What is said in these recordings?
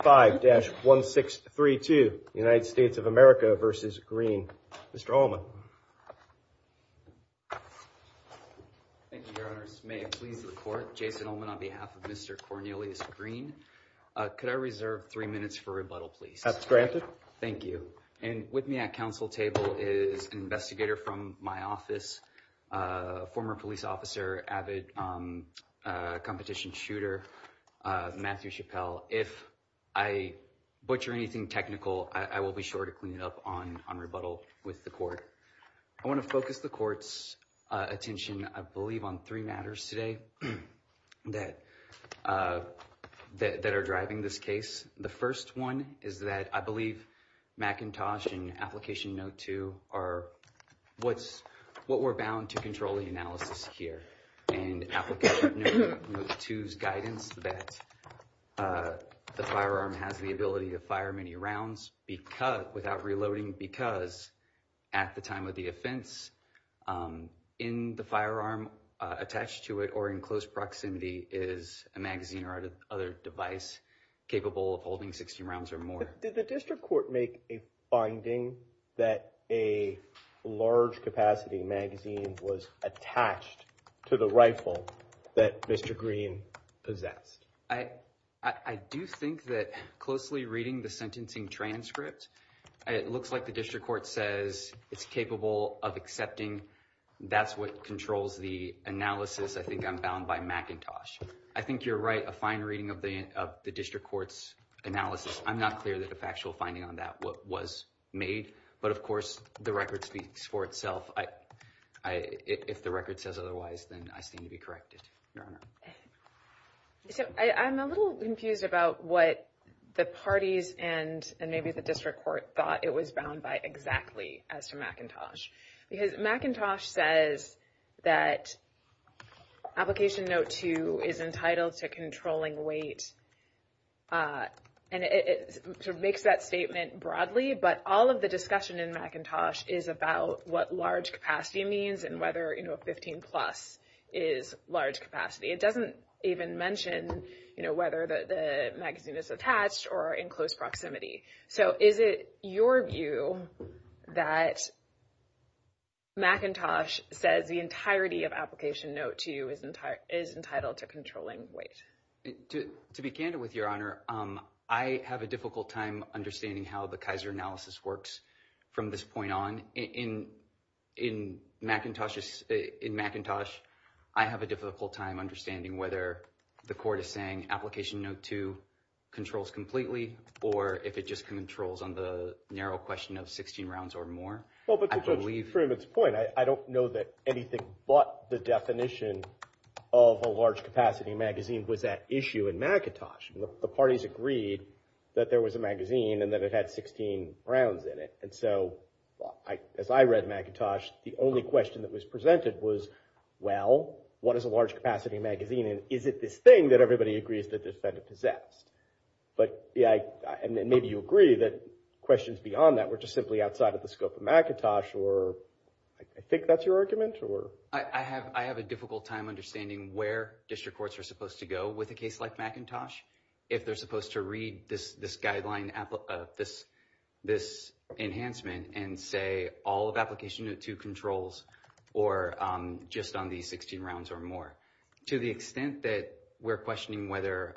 5-1632, United States of America v. Green. Mr. Ullman. Thank you, Your Honors. May I please report? Jason Ullman on behalf of Mr. Cornelius Green. Could I reserve three minutes for rebuttal, please? That's granted. Thank you. And with me at council table is an investigator from my office, former police officer, avid competition shooter, Matthew Chappell. If I butcher anything technical, I will be sure to clean it up on rebuttal with the court. I want to focus the court's attention, I believe, on three matters today that are driving this case. The first one is that I believe McIntosh and Application Note 2 are what we're to control the analysis here. And Application Note 2's guidance that the firearm has the ability to fire many rounds without reloading because, at the time of the offense, in the firearm attached to it or in close proximity is a magazine or other device capable of holding 16 rounds or more. Did the district court make a finding that a large capacity magazine was attached to the rifle that Mr. Green possessed? I do think that closely reading the sentencing transcript, it looks like the district court says it's capable of accepting that's what controls the analysis. I think I'm bound by McIntosh. I think you're right. A fine reading of the district court's analysis, I'm not clear that a factual finding on that was made. But of course, the record speaks for itself. If the record says otherwise, then I seem to be corrected. So I'm a little confused about what the parties and maybe the district court thought it was bound by exactly as to McIntosh. Because McIntosh says that Application Note 2 is entitled to controlling weight. And it sort of makes that statement broadly. But all of the discussion in McIntosh is about what large capacity means and whether, you know, 15 plus is large capacity. It doesn't even mention, you know, whether the magazine is attached or in close proximity. So is it your view that McIntosh says the entirety of Application Note 2 is entitled to controlling weight? To be candid with your honor, I have a difficult time understanding how the Kaiser analysis works from this point on. In McIntosh, I have a difficult time understanding whether the court is saying Application Note 2 controls completely, or if it just controls on the narrow question of 16 rounds or more. Well, but to Judge Freeman's point, I don't know that anything but the definition of a large capacity magazine was at issue in McIntosh. The parties agreed that there was a magazine and that it had 16 rounds in it. And so as I read McIntosh, the only question that was presented was, well, what is a large capacity magazine? And is it this thing that everybody agrees that the defendant possessed? But yeah, and maybe you agree that questions beyond that were just simply outside of the scope of McIntosh, or I think that's your mentor. I have a difficult time understanding where district courts are supposed to go with a case like McIntosh, if they're supposed to read this guideline, this enhancement, and say all of Application Note 2 controls, or just on these 16 rounds or more. To the extent that we're questioning whether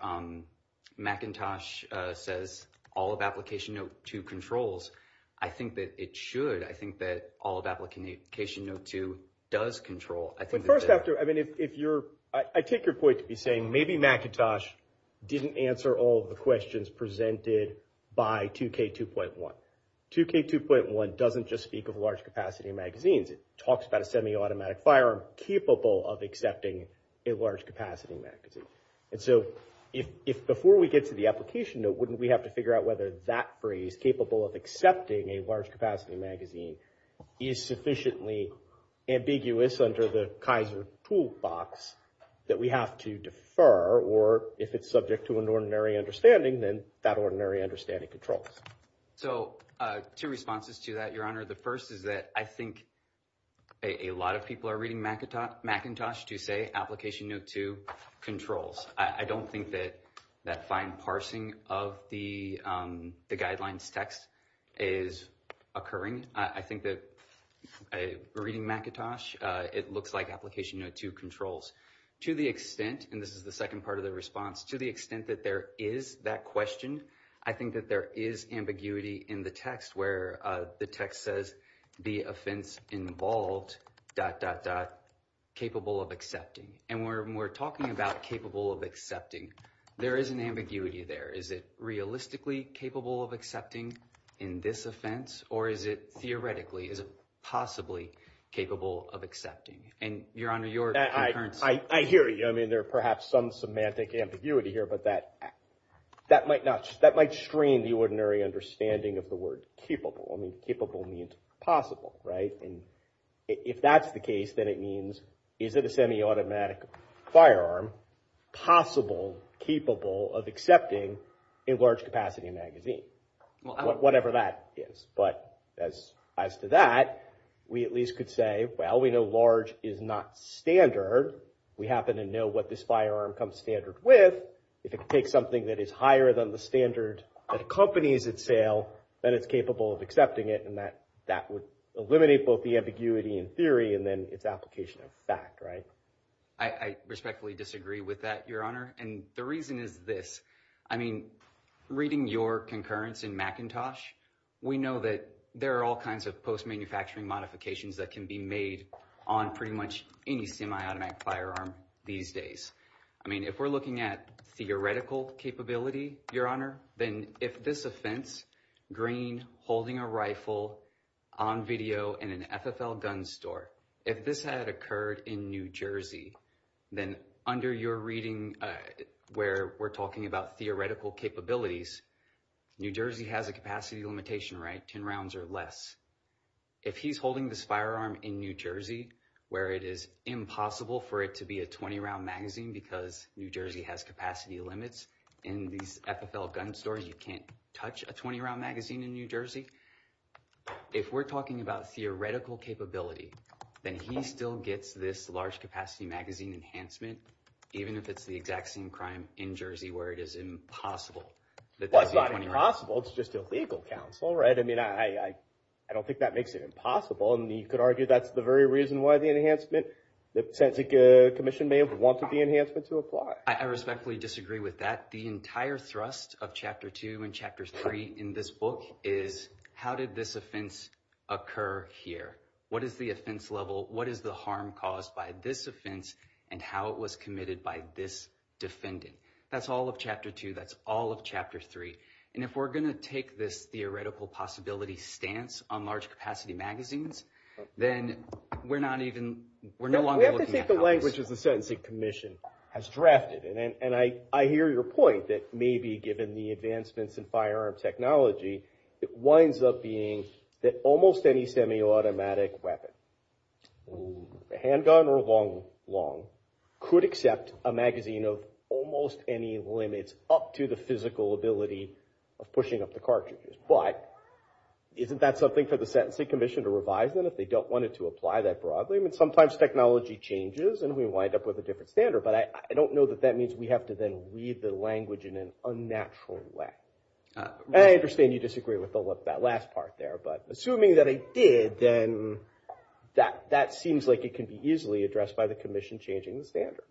McIntosh says all of Application Note 2 controls, I think that it should. I think that all of Application Note 2 does control. But first, I take your point to be saying maybe McIntosh didn't answer all of the questions presented by 2K2.1. 2K2.1 doesn't just speak of large capacity magazines. It talks about a semi-automatic firearm capable of accepting a large capacity magazine. And so if before we get to the Application Note, wouldn't we have to figure out whether that phrase, capable of accepting a large capacity magazine, is sufficiently ambiguous under the Kaiser toolbox that we have to defer? Or if it's subject to an ordinary understanding, then that ordinary understanding controls. So two responses to that, Your Honor. The first is that I think a lot of people are reading McIntosh to say Application Note 2 controls. I don't think that that fine parsing of the guidelines text is occurring. I think that reading McIntosh, it looks like Application Note 2 controls. To the extent, and this is the second part of the response, to the extent that there is that question, I think that there is ambiguity in the text where the text says the offense involved, dot, dot, dot, capable of accepting. And when we're talking about capable of accepting, there is an ambiguity there. Is it realistically capable of accepting in this offense? Or is it theoretically, is it possibly capable of accepting? And Your Honor, your concurrence. I hear you. I mean, there are perhaps some semantic ambiguity here, but that might strain the ordinary understanding of the word capable. I mean, then it means, is it a semi-automatic firearm possible, capable of accepting in large capacity magazine? Whatever that is. But as to that, we at least could say, well, we know large is not standard. We happen to know what this firearm comes standard with. If it takes something that is higher than the standard that accompanies its sale, then it's capable of accepting it. And that would eliminate both the ambiguity in theory and then its application of fact, right? I respectfully disagree with that, Your Honor. And the reason is this. I mean, reading your concurrence in Macintosh, we know that there are all kinds of post-manufacturing modifications that can be made on pretty much any semi-automatic firearm these days. I mean, if we're looking at theoretical capability, Your Honor, then if this offense, green, holding a rifle on video in an FFL gun store, if this had occurred in New Jersey, then under your reading where we're talking about theoretical capabilities, New Jersey has a capacity limitation, right? 10 rounds or less. If he's holding this firearm in New Jersey, where it is impossible for it to be a 20-round magazine because New Jersey has capacity limits in these FFL gun stores, you can't touch a 20-round magazine in New Jersey. If we're talking about theoretical capability, then he still gets this large capacity magazine enhancement, even if it's the exact same crime in Jersey where it is impossible. Well, it's not impossible. It's just a legal counsel, right? I mean, I don't think that makes it impossible. And you could argue that's the very reason why the enhancement, the Sentencing Commission may have wanted the enhancement to apply. I respectfully disagree with that. The entire thrust of Chapter 2 and Chapter 3 in this book is how did this offense occur here? What is the offense level? What is the harm caused by this offense and how it was committed by this defendant? That's all of Chapter 2. That's all of Chapter 3. And if we're going to take this theoretical possibility stance on large capacity magazines, then we're not even, we're no longer looking at- We have to take the language as the Sentencing Commission has drafted it. And I hear your point that maybe given the advancements in firearm technology, it winds up being that almost any semi-automatic weapon, handgun or long, could accept a magazine of almost any limits up to the physical ability of pushing up the cartridges. But isn't that something for the Sentencing Commission to revise then if they don't want it to apply that broadly? I mean, sometimes technology changes and we wind up with a different standard, but I don't know that that means we have to then read the language in an unnatural way. I understand you disagree with that last part there, but assuming that it did, then that seems like it can be easily addressed by the commission changing the standard.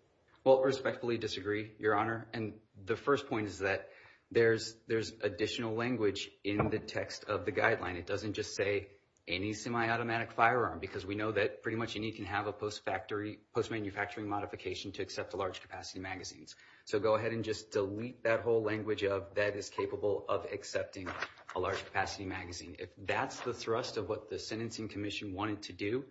Well, I respectfully disagree, Your Honor. And the first point is that there's additional language in the text of the guideline. It doesn't just say any semi-automatic firearm, because we know that pretty much any can have a post-manufacturing modification to accept a large capacity magazines. So go ahead and just delete that whole language of, that is capable of accepting a large capacity magazine. If that's the thrust of what the Sentencing Commission wanted to do,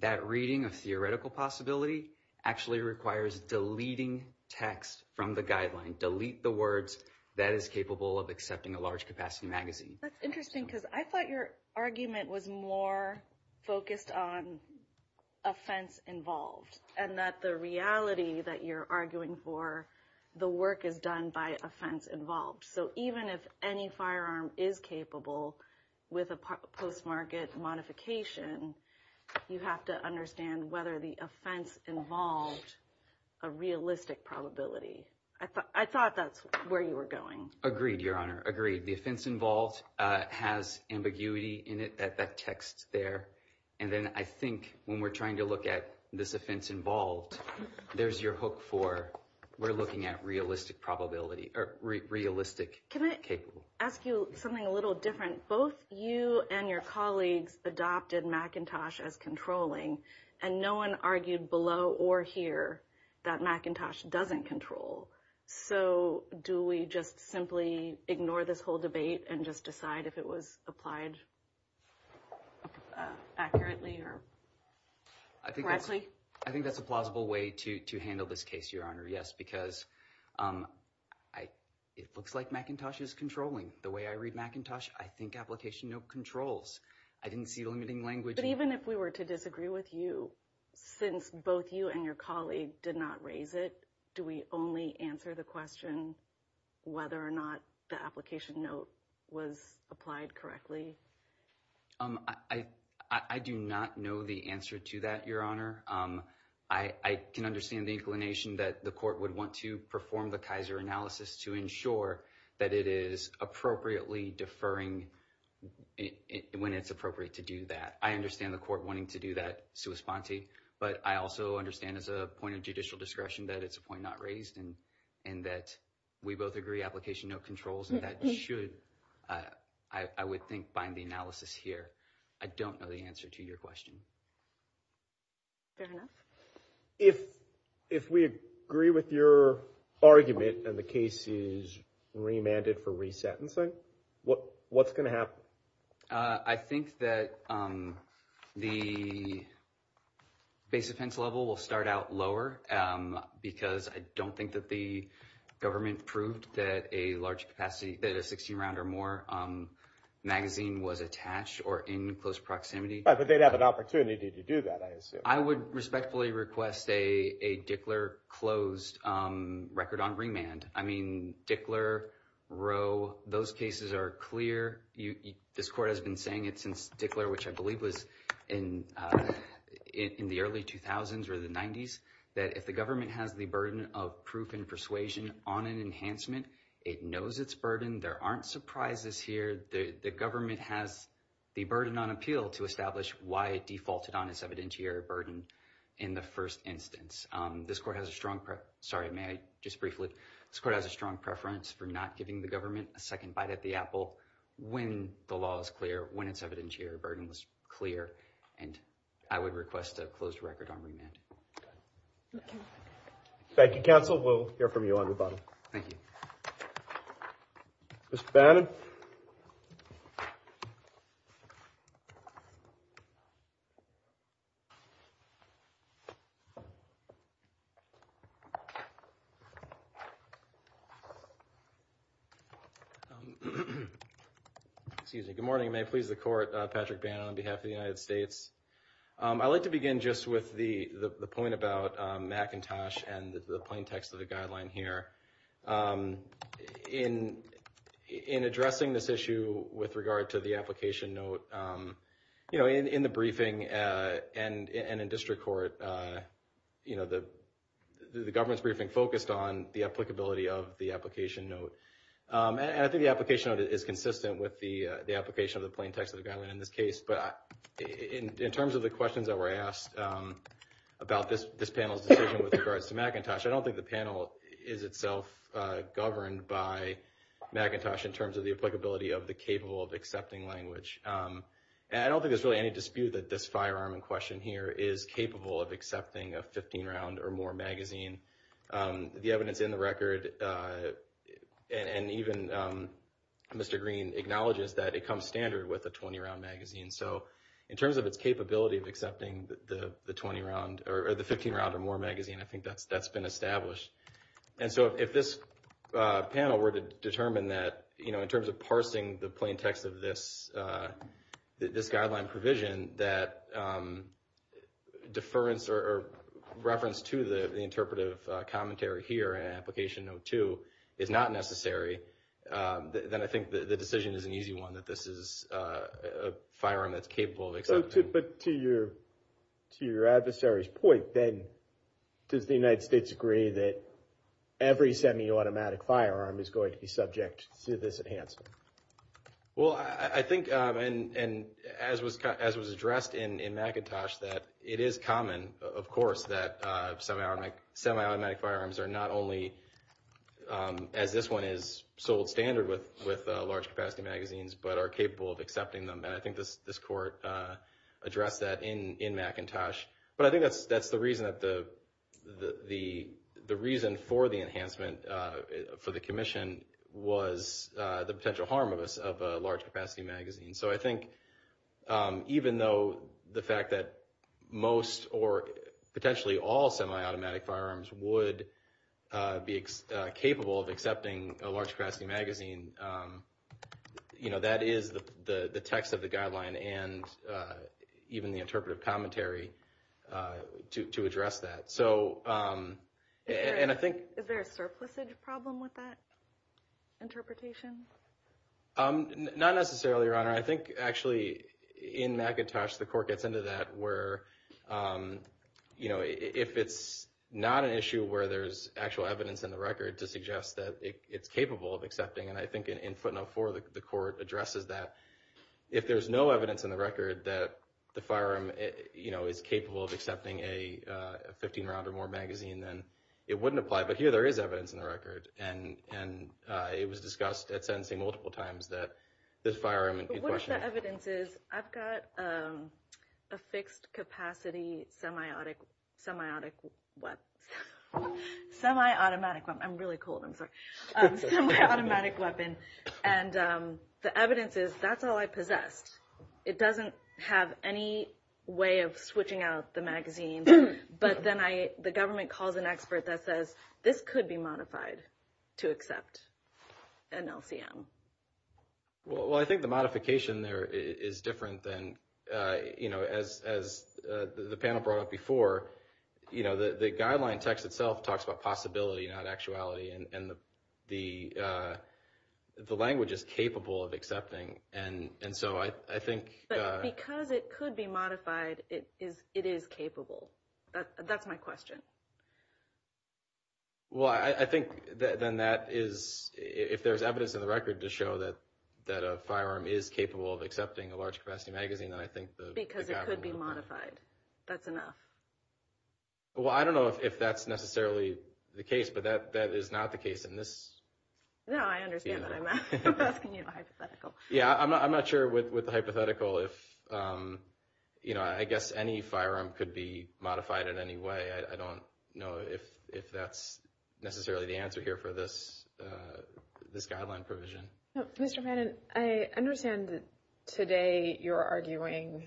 that reading of theoretical possibility actually requires deleting text from the guideline. Delete the words, that is capable of accepting a large capacity magazine. That's interesting, because I thought your argument was more focused on offense involved, and that the reality that you're arguing for, the work is done by offense involved. So even if any firearm is capable with a post-market modification, you have to understand whether the offense involved a realistic probability. I thought that's where you were going. Agreed, Your Honor, agreed. The offense involved has ambiguity in it, that text there. And then I think when we're trying to look at this offense involved, there's your hook for, we're looking at realistic probability, or realistic capable. Can I ask you something a little different? Both you and your colleagues adopted Macintosh as controlling, and no one argued below or here that Macintosh doesn't control. So do we just simply ignore this whole debate and just decide if it was applied accurately or correctly? I think that's a plausible way to handle this case, Your Honor. Yes, because it looks like Macintosh is controlling. The way I read Macintosh, I think application no controls. I didn't see limiting language. But even if we were to disagree with you, since both you and your colleague did not raise it, do we only answer the question whether or not the application note was applied correctly? I do not know the answer to that, Your Honor. I can understand the inclination that the court would want to perform the Kaiser analysis to ensure that it is appropriately deferring when it's appropriate to do that. I understand the court wanting to do that sua sponte, but I also understand as a point of judicial discretion that it's a point not raised, and that we both agree application no controls, and that should, I would think, bind the analysis here. I don't know the answer to your question. Fair enough. If we agree with your argument and the case is remanded for resentencing, what's going to happen? I think that the base offense level will start out lower because I don't think that the government proved that a large capacity, that a 16-round or more magazine was attached or in close proximity. But they'd have an opportunity to do that, I assume. I would respectfully request a Dickler closed record on remand. I mean, Dickler, Roe, those cases are clear. This court has been saying it since Dickler, which I believe was in the early 2000s or the 90s, that if the government has the burden of proof and persuasion on an enhancement, it knows its burden. There aren't surprises here. The government has the burden on appeal to establish why it defaulted on its evidentiary burden in the first instance. This court has a strong, sorry, may I just briefly, this court has a strong preference for not giving the government a second bite at the apple when the law is clear, when its evidentiary burden was clear, and I would request a closed record on remand. Thank you, counsel. We'll move on to Patrick Bannon. Excuse me. Good morning. May it please the court, Patrick Bannon on behalf of the United States. I'd like to begin just with the point about McIntosh and the plain text of the guideline here. In addressing this issue with regard to the application note, you know, in the briefing and in district court, you know, the government's briefing focused on the applicability of the application note. And I think the application note is consistent with the application of the plain text of the guideline in this case. But in terms of the questions that were asked about this panel's decision with regards to McIntosh, I don't think the panel is itself governed by McIntosh in terms of the applicability of the capable of accepting language. And I don't think there's really any dispute that this firearm in question here is capable of accepting a 15-round or more magazine. The evidence in the record, and even Mr. Green acknowledges that it comes standard with a 20-round magazine. So in terms of its capability of accepting the 20-round or the 15-round or more magazine, I think that's been established. And so if this panel were to determine that, you know, in terms of parsing the plain text of this guideline provision, that deference or reference to the interpretive commentary here in application note two is not necessary, then I think the decision is an easy one that this is a firearm that's capable of accepting. But to your adversary's point, then, does the United States agree that every semi-automatic firearm is going to be subject to this enhancement? Well, I think, and as was addressed in McIntosh, that it is common, of course, that semi-automatic firearms are not only, as this one is sold standard with large capacity magazines, but are capable of accepting them. And I think this court addressed that in McIntosh. But I think that's the reason for the enhancement for the commission was the potential harm of a large capacity magazine. So I think even though the fact that most or potentially all semi-automatic firearms would be capable of accepting a large capacity magazine, you know, that is the text of the guideline and even the interpretive commentary to address that. Is there a surplusage problem with that interpretation? Not necessarily, Your Honor. I think, actually, in McIntosh, the court gets into that where, you know, if it's not an issue where there's actual evidence in the record to suggest that it's capable of accepting, and I think in footnote four, the court addresses that, if there's no evidence in the record that the firearm, you know, is capable of accepting a 15-round or more magazine, then it wouldn't apply. But here, there is evidence in the record, and it was discussed at sentencing multiple times that this firearm could be questioned. But what if the evidence is, I've got a fixed-capacity semi-automatic weapon. I'm really cold, I'm sorry. Semi-automatic weapon. And the evidence is, that's all I possessed. It doesn't have any way of switching out the magazine, but then the government calls an expert that says, this could be modified to accept an LCM. Well, I think the modification there is different than, you know, as the panel brought up before, you know, the guideline text itself talks about possibility, not actuality, and the language is capable of accepting, and so I think... But because it could be modified, it is capable. That's my question. Well, I think then that is, if there's evidence in the record to show that a firearm is capable of accepting a large-capacity magazine, then I think the... Because it could be modified. That's enough. Well, I don't know if that's necessarily the case, but that is not the case in this... No, I understand that. I'm asking you a hypothetical. Yeah, I'm not sure with the hypothetical if, you know, I guess any firearm could be modified in any way. I don't know if that's necessarily the answer here for this guideline provision. No, Mr. Fannin, I understand that today you're arguing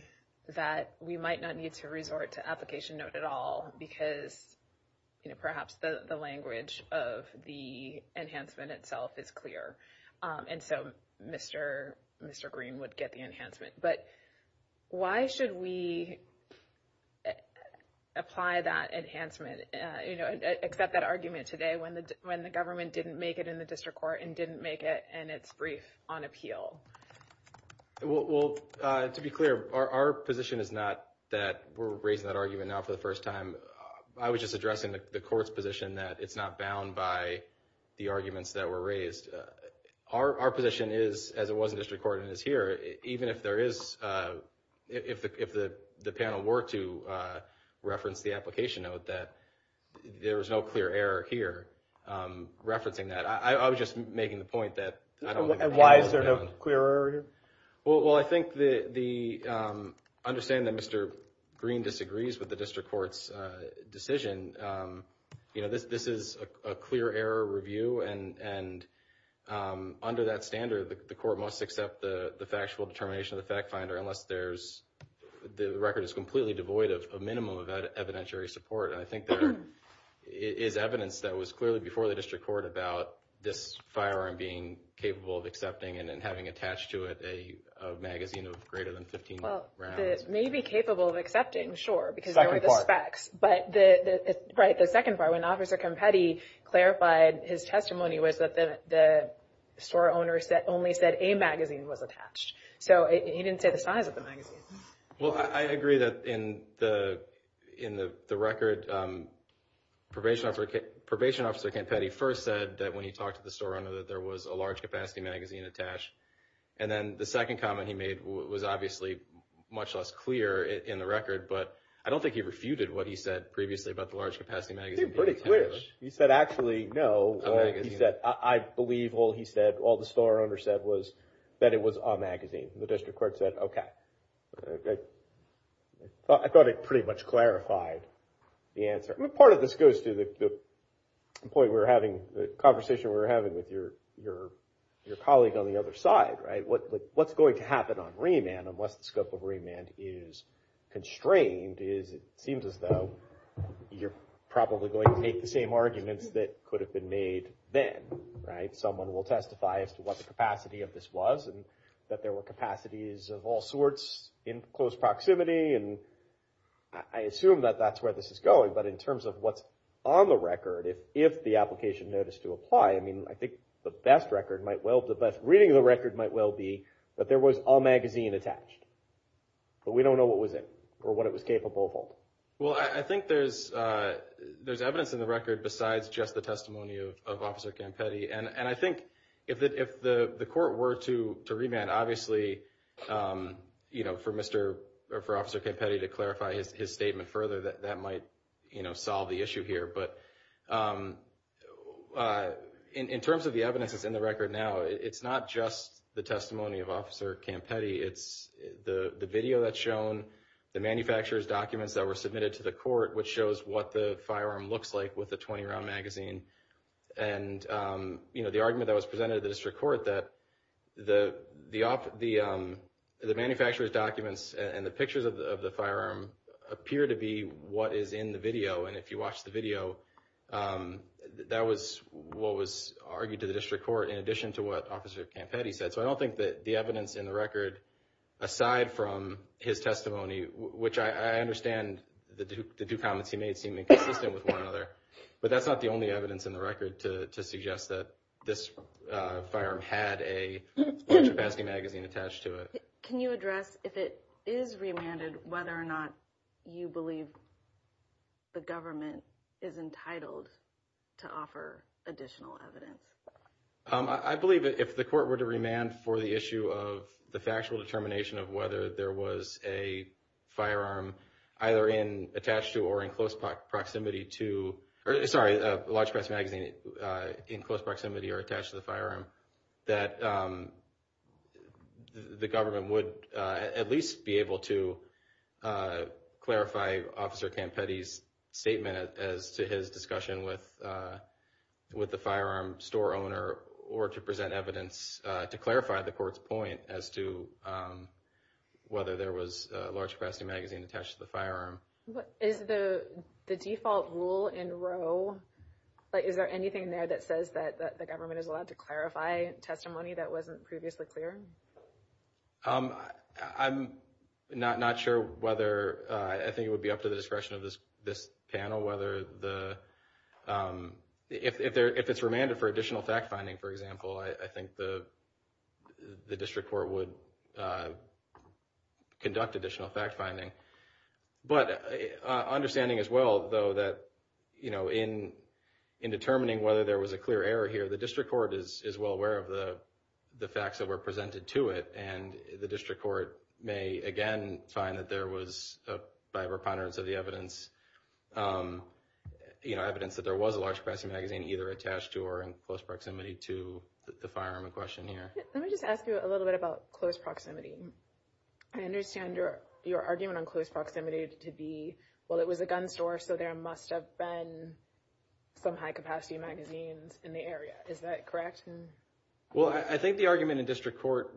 that we might not need to resort to application note at all because, you know, perhaps the language of the enhancement itself is clear, and so Mr. Green would get the enhancement. But why should we apply that enhancement, you know, accept that argument today when the government didn't make it in the district court and didn't make it in its brief on appeal? Well, to be clear, our position is not that we're raising that argument now for the first time. I was just addressing the court's position that it's not bound by the arguments that were raised. Our position is, as it was in district court and is here, even if there is... If the panel were to reference the application note, that there was no clear error here referencing that. I was just making the point that... And why is there no clear error here? Well, I think the... Understand that Mr. Green disagrees with the district court's decision. You know, this is a clear error review, and under that standard, the court must accept the factual determination of the fact finder unless there's... The record is completely devoid of a support. And I think there is evidence that was clearly before the district court about this firearm being capable of accepting and then having attached to it a magazine of greater than 15 rounds. Well, it may be capable of accepting, sure, because there were the specs. Second part. But the... Right, the second part, when Officer Campetti clarified his testimony was that the store owner only said a magazine was attached. So he didn't say the size of the magazine. Well, I agree that in the record, probation officer Campetti first said that when he talked to the store owner that there was a large capacity magazine attached. And then the second comment he made was obviously much less clear in the record, but I don't think he refuted what he said previously about the large capacity magazine being attached. I think pretty clear. He said, actually, no. A magazine. He said, I believe all he said, all the store owner said was that it was a magazine. The district court said, okay. I thought it pretty much clarified the answer. I mean, part of this goes to the point we were having, the conversation we were having with your colleague on the other side, right? What's going to happen on remand, unless the scope of remand is constrained, is it seems as though you're probably going to make the same arguments that could have been made then, right? Someone will testify as to what the capacity of this was and that there were capacities of all sorts in close proximity. And I assume that that's where this is going, but in terms of what's on the record, if the application noticed to apply, I mean, I think the best record might well, the best reading of the record might well be that there was a magazine attached, but we don't know what was it or what it was capable of. Well, I think there's evidence in the record besides just the testimony of Officer Campetti. And I think if the court were to remand, obviously, for Officer Campetti to clarify his statement further, that might solve the issue here. But in terms of the evidence that's in the record now, it's not just the testimony of Officer Campetti. It's the video that's shown, the manufacturer's documents that were submitted to the court, which shows what the firearm looks like with the 20-round magazine. And the argument that was presented to the district court that the manufacturer's documents and the pictures of the firearm appear to be what is in the video. And if you watch the video, that was what was argued to the district court in addition to what Officer Campetti said. So I don't think that the evidence in the record, aside from his testimony, which I understand the two comments he made seem inconsistent with one another, but that's not the only evidence in the record to suggest that this firearm had a capacity magazine attached to it. Can you address if it is remanded, whether or not you believe the government is entitled to offer additional evidence? I believe if the court were to remand for the issue of the factual determination of whether there was a firearm either attached to or in close proximity to, sorry, a large capacity magazine in close proximity or attached to the firearm, that the government would at least be able to clarify Officer Campetti's statement as to his discussion with the firearm store owner, or to present evidence to clarify the court's point as to whether there was a large capacity magazine attached to the firearm. Is the default rule in Roe, is there anything there that says that the government is allowed to clarify testimony that wasn't previously clear? I'm not sure whether, I think it would be up to the discretion of this panel whether the, if it's remanded for additional fact-finding, for example, I think the District Court would conduct additional fact-finding. But understanding as well, though, that in determining whether there was a clear error here, the District Court is well aware of the facts that were presented to it, and the District Court may, again, find that there was, by reponderance of the evidence, you know, evidence that there was a large capacity magazine either attached to or in close proximity to the firearm in question here. Let me just ask you a little bit about close proximity. I understand your argument on close proximity to be, well, it was a gun store, so there must have been some high-capacity magazines in the area. Is that correct? Well, I think the argument in District Court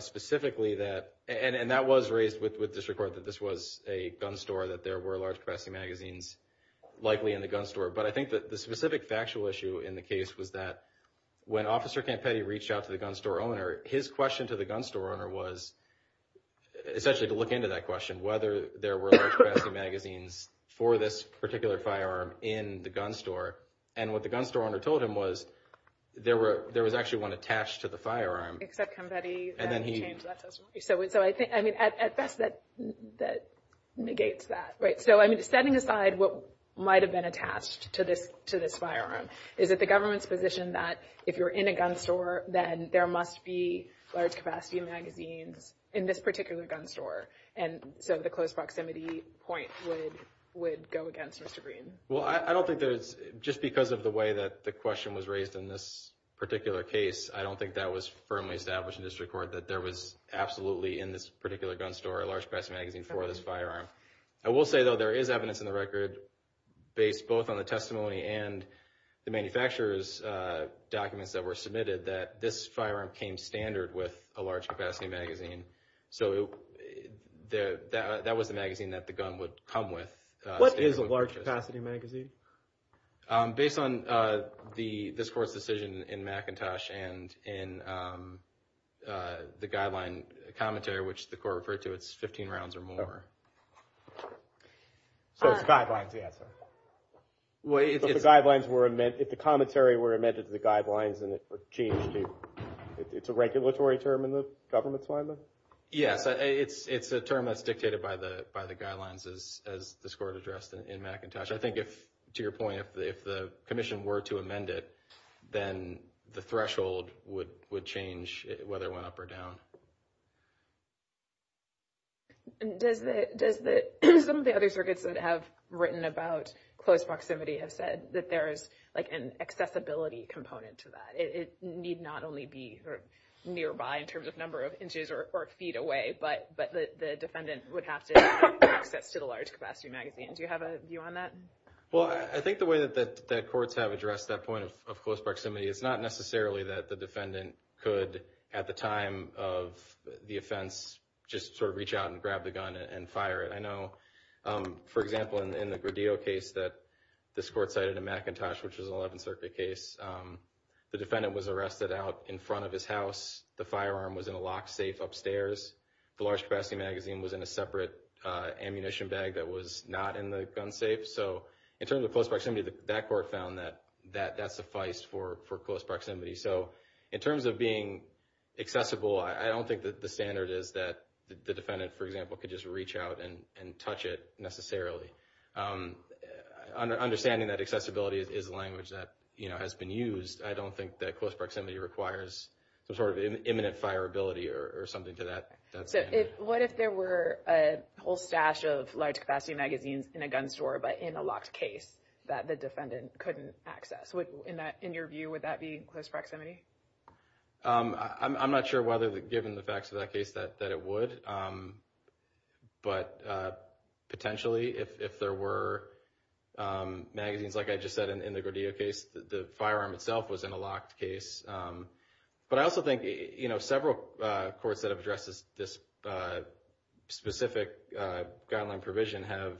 specifically that, and that was raised with District Court that this was a gun store, that there were large-capacity magazines likely in the gun store. But I think that the specific factual issue in the case was that when Officer Campetti reached out to the gun store owner, his question to the gun store owner was essentially to look into that question, whether there were large-capacity magazines for this particular firearm in the gun store. And what the gun store owner told him was there were, there was actually one attached to the firearm. Except Campetti, and then he changed that testimony. So, so I think, I mean, at best that, that negates that, right? So, I mean, setting aside what might have been attached to this, to this firearm, is it the government's position that if you're in a gun store, then there must be large-capacity magazines in this particular gun store? And so the close proximity point would, would go against Mr. Green? Well, I don't think there's, just because of the way that the question was raised in this particular case, I don't think that was firmly established in District Court, that there was absolutely in this particular gun store a large-capacity magazine for this firearm. I will say, though, there is evidence in the record based both on the testimony and the manufacturer's documents that were submitted that this firearm came standard with a large-capacity magazine. So it, that, that was the magazine that the gun would come with. What is a large-capacity magazine? Based on the, this Court's decision in McIntosh and in the guideline commentary, which the Court referred to, it's 15 rounds or more. So it's guidelines, yeah, sorry. Well, if the guidelines were amended, if the commentary were amended to the guidelines and it were changed to, it's a regulatory term in the government's Yes, it's, it's a term that's dictated by the, by the guidelines as, as this Court addressed in McIntosh. I think if, to your point, if the, if the Commission were to amend it, then the threshold would, would change whether it went up or down. And does the, does the, some of the other circuits that have written about close proximity have said that there is like an accessibility component to that? It need not only be nearby in terms of inches or feet away, but, but the defendant would have to have access to the large-capacity magazine. Do you have a view on that? Well, I think the way that, that, that courts have addressed that point of, of close proximity, it's not necessarily that the defendant could, at the time of the offense, just sort of reach out and grab the gun and fire it. I know, for example, in the Gradillo case that this Court cited in McIntosh, which is an 11th Circuit case, the defendant was arrested out in front of his house. The firearm was in a locked safe upstairs. The large-capacity magazine was in a separate ammunition bag that was not in the gun safe. So in terms of close proximity, that Court found that, that, that sufficed for, for close proximity. So in terms of being accessible, I don't think that the standard is that the defendant, for example, could just reach out and, and touch it necessarily. Understanding that accessibility is a language that, you know, has been used, I don't think that close proximity requires some sort of imminent fire ability or something to that, that standard. So if, what if there were a whole stash of large-capacity magazines in a gun store, but in a locked case that the defendant couldn't access? Would, in that, in your view, would that be close proximity? I'm, I'm not sure whether, given the facts of that case, that, that it would, but potentially if, if there were magazines, like I just said, in the Gradillo case, the firearm itself was in a locked case. But I also think, you know, several courts that have addressed this, this specific guideline provision have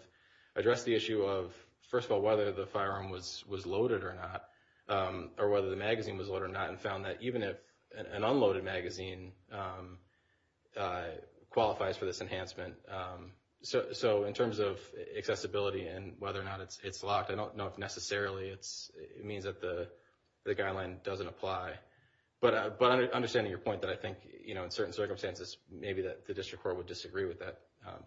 addressed the issue of, first of all, whether the firearm was, was loaded or not, or whether the magazine was loaded or not, and found that even if an unloaded magazine qualifies for this enhancement. So, so in terms of accessibility and whether or not it's, it's locked, I don't know if necessarily it's, it means that the, the guideline doesn't apply. But, but understanding your point that I think, you know, in certain circumstances, maybe that the district court would disagree with that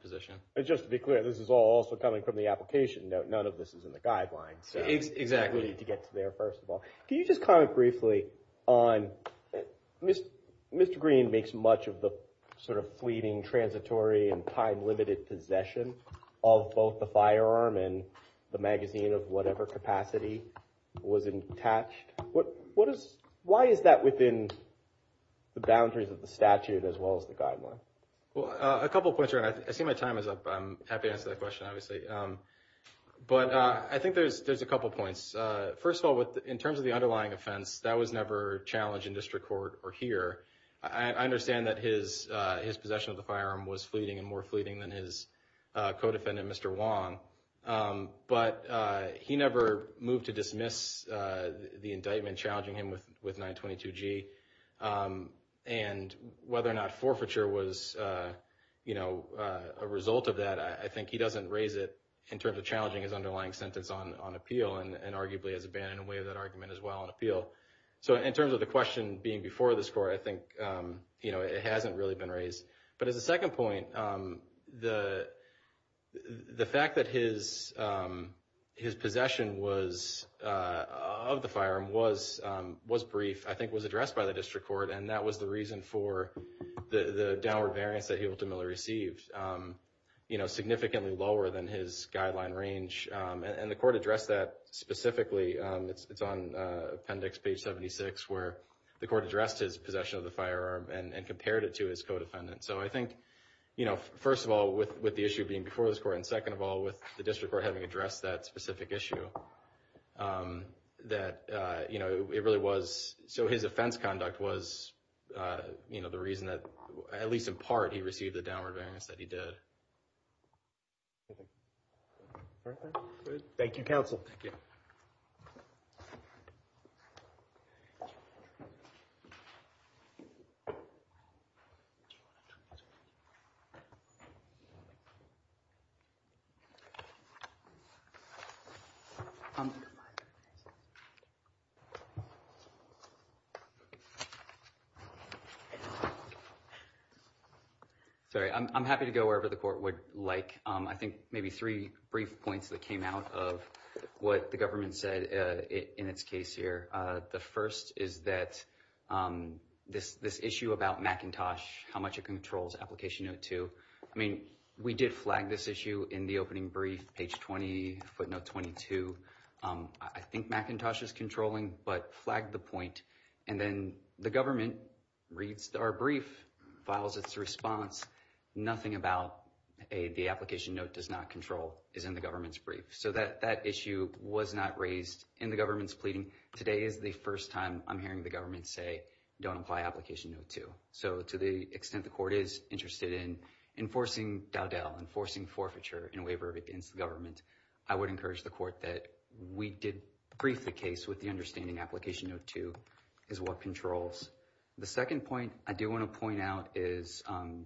position. And just to be clear, this is all also coming from the application note. None of this is in the guidelines. Exactly. To get to there, first of all. Can you just comment briefly on, Mr. Green makes much of the sort of fleeting, transitory, and time-limited possession of both the firearm and the magazine of whatever capacity was attached. What, what is, why is that within the boundaries of the statute as well as the guideline? Well, a couple points here, and I see my time is up. I'm happy to answer that question, obviously. But I think there's, there's a couple points. First of all, with, in terms of the underlying offense, that was never challenged in district court or here. I understand that his, his possession of the firearm was fleeting and more fleeting than his co-defendant, Mr. Wong. But he never moved to dismiss the indictment challenging him with, with 922G. And whether or not forfeiture was, you know, a result of that, I think he doesn't raise it in terms of challenging his underlying sentence on, on appeal, and arguably has abandoned away that argument as well on appeal. So in terms of the question being before this court, I think, you know, it hasn't really been raised. But as a second point, the, the fact that his, his possession was, of the firearm was, was brief, I think was addressed by the district court. And that was the reason for the downward variance that he ultimately received, you know, significantly lower than his guideline range. And the court addressed that specifically. It's, it's on appendix page 76, where the court addressed his possession of the firearm and, and compared it to his co-defendant. So I think, you know, first of all, with, with the issue being before this court, and second of all, with the district court having addressed that specific issue, that, you know, it really was, so his offense conduct was, you know, the reason that, at least in part, he received the downward variance that he did. All right. Thank you, counsel. Thank you. Sorry, I'm happy to go wherever the court would like. I think maybe three brief points that came out of what the government said in its case here. The first is that this, this issue about McIntosh, how much it controls application note two. I mean, we did flag this issue in the opening brief, page 20, footnote 22. I think McIntosh is controlling, but flagged the point. And then the government reads our brief, files its response. Nothing about a, the application note does not is in the government's brief. So that, that issue was not raised in the government's pleading. Today is the first time I'm hearing the government say, don't apply application note two. So to the extent the court is interested in enforcing Dowdell, enforcing forfeiture in waiver against the government, I would encourage the court that we did brief the case with the understanding application note two is what controls. The second point I do want to point out is, um,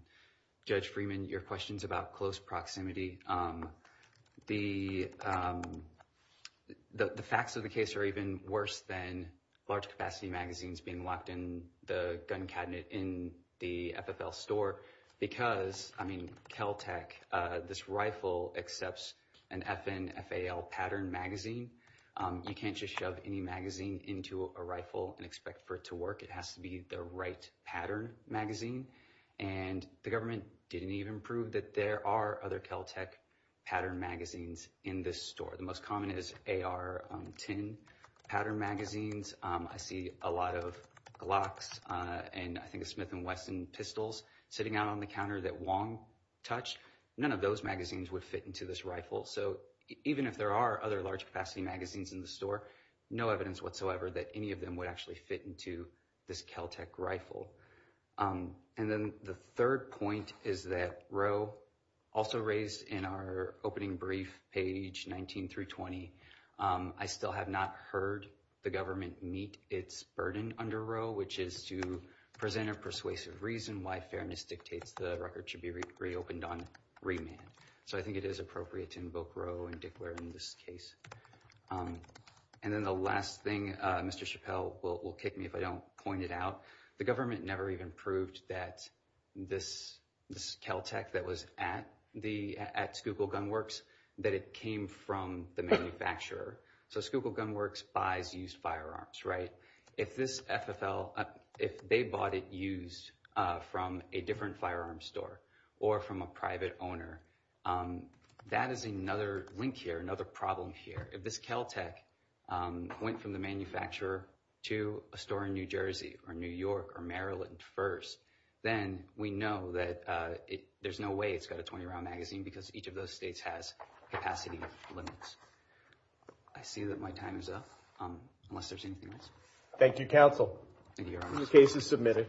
Judge Freeman, your questions about close proximity. Um, the, um, the, the facts of the case are even worse than large capacity magazines being locked in the gun cabinet in the FFL store. Because I mean, Caltech, uh, this rifle accepts an FN FAL pattern magazine. Um, you can't just shove any magazine into a rifle and expect for it to work. It has to be the right pattern magazine. And the government didn't even prove that there are other Caltech pattern magazines in this store. The most common is AR-10 pattern magazines. Um, I see a lot of Glocks, uh, and I think Smith and Weston pistols sitting out on the counter that Wong touched. None of those magazines would fit into this rifle. So even if there are other large capacity magazines in the store, no evidence whatsoever that any of them would actually fit into this Caltech rifle. Um, and then the third point is that Roe also raised in our opening brief page 19 through 20. Um, I still have not heard the government meet its burden under Roe, which is to present a persuasive reason why fairness dictates the record should be reopened on remand. So I think it is appropriate to invoke Roe and Roe in this case. Um, and then the last thing, uh, Mr. Chappelle will kick me if I don't point it out. The government never even proved that this, this Caltech that was at the, at Schuylkill Gunworks, that it came from the manufacturer. So Schuylkill Gunworks buys used firearms, right? If this FFL, if they bought it used, uh, from a different firearm store or from a private owner, um, that is another link here, another problem here. If this Caltech, um, went from the manufacturer to a store in New Jersey or New York or Maryland first, then we know that, uh, it, there's no way it's got a 20-round magazine because each of those states has capacity limits. I see that my time is up, um, unless there's anything else. Thank you, counsel. The case is submitted.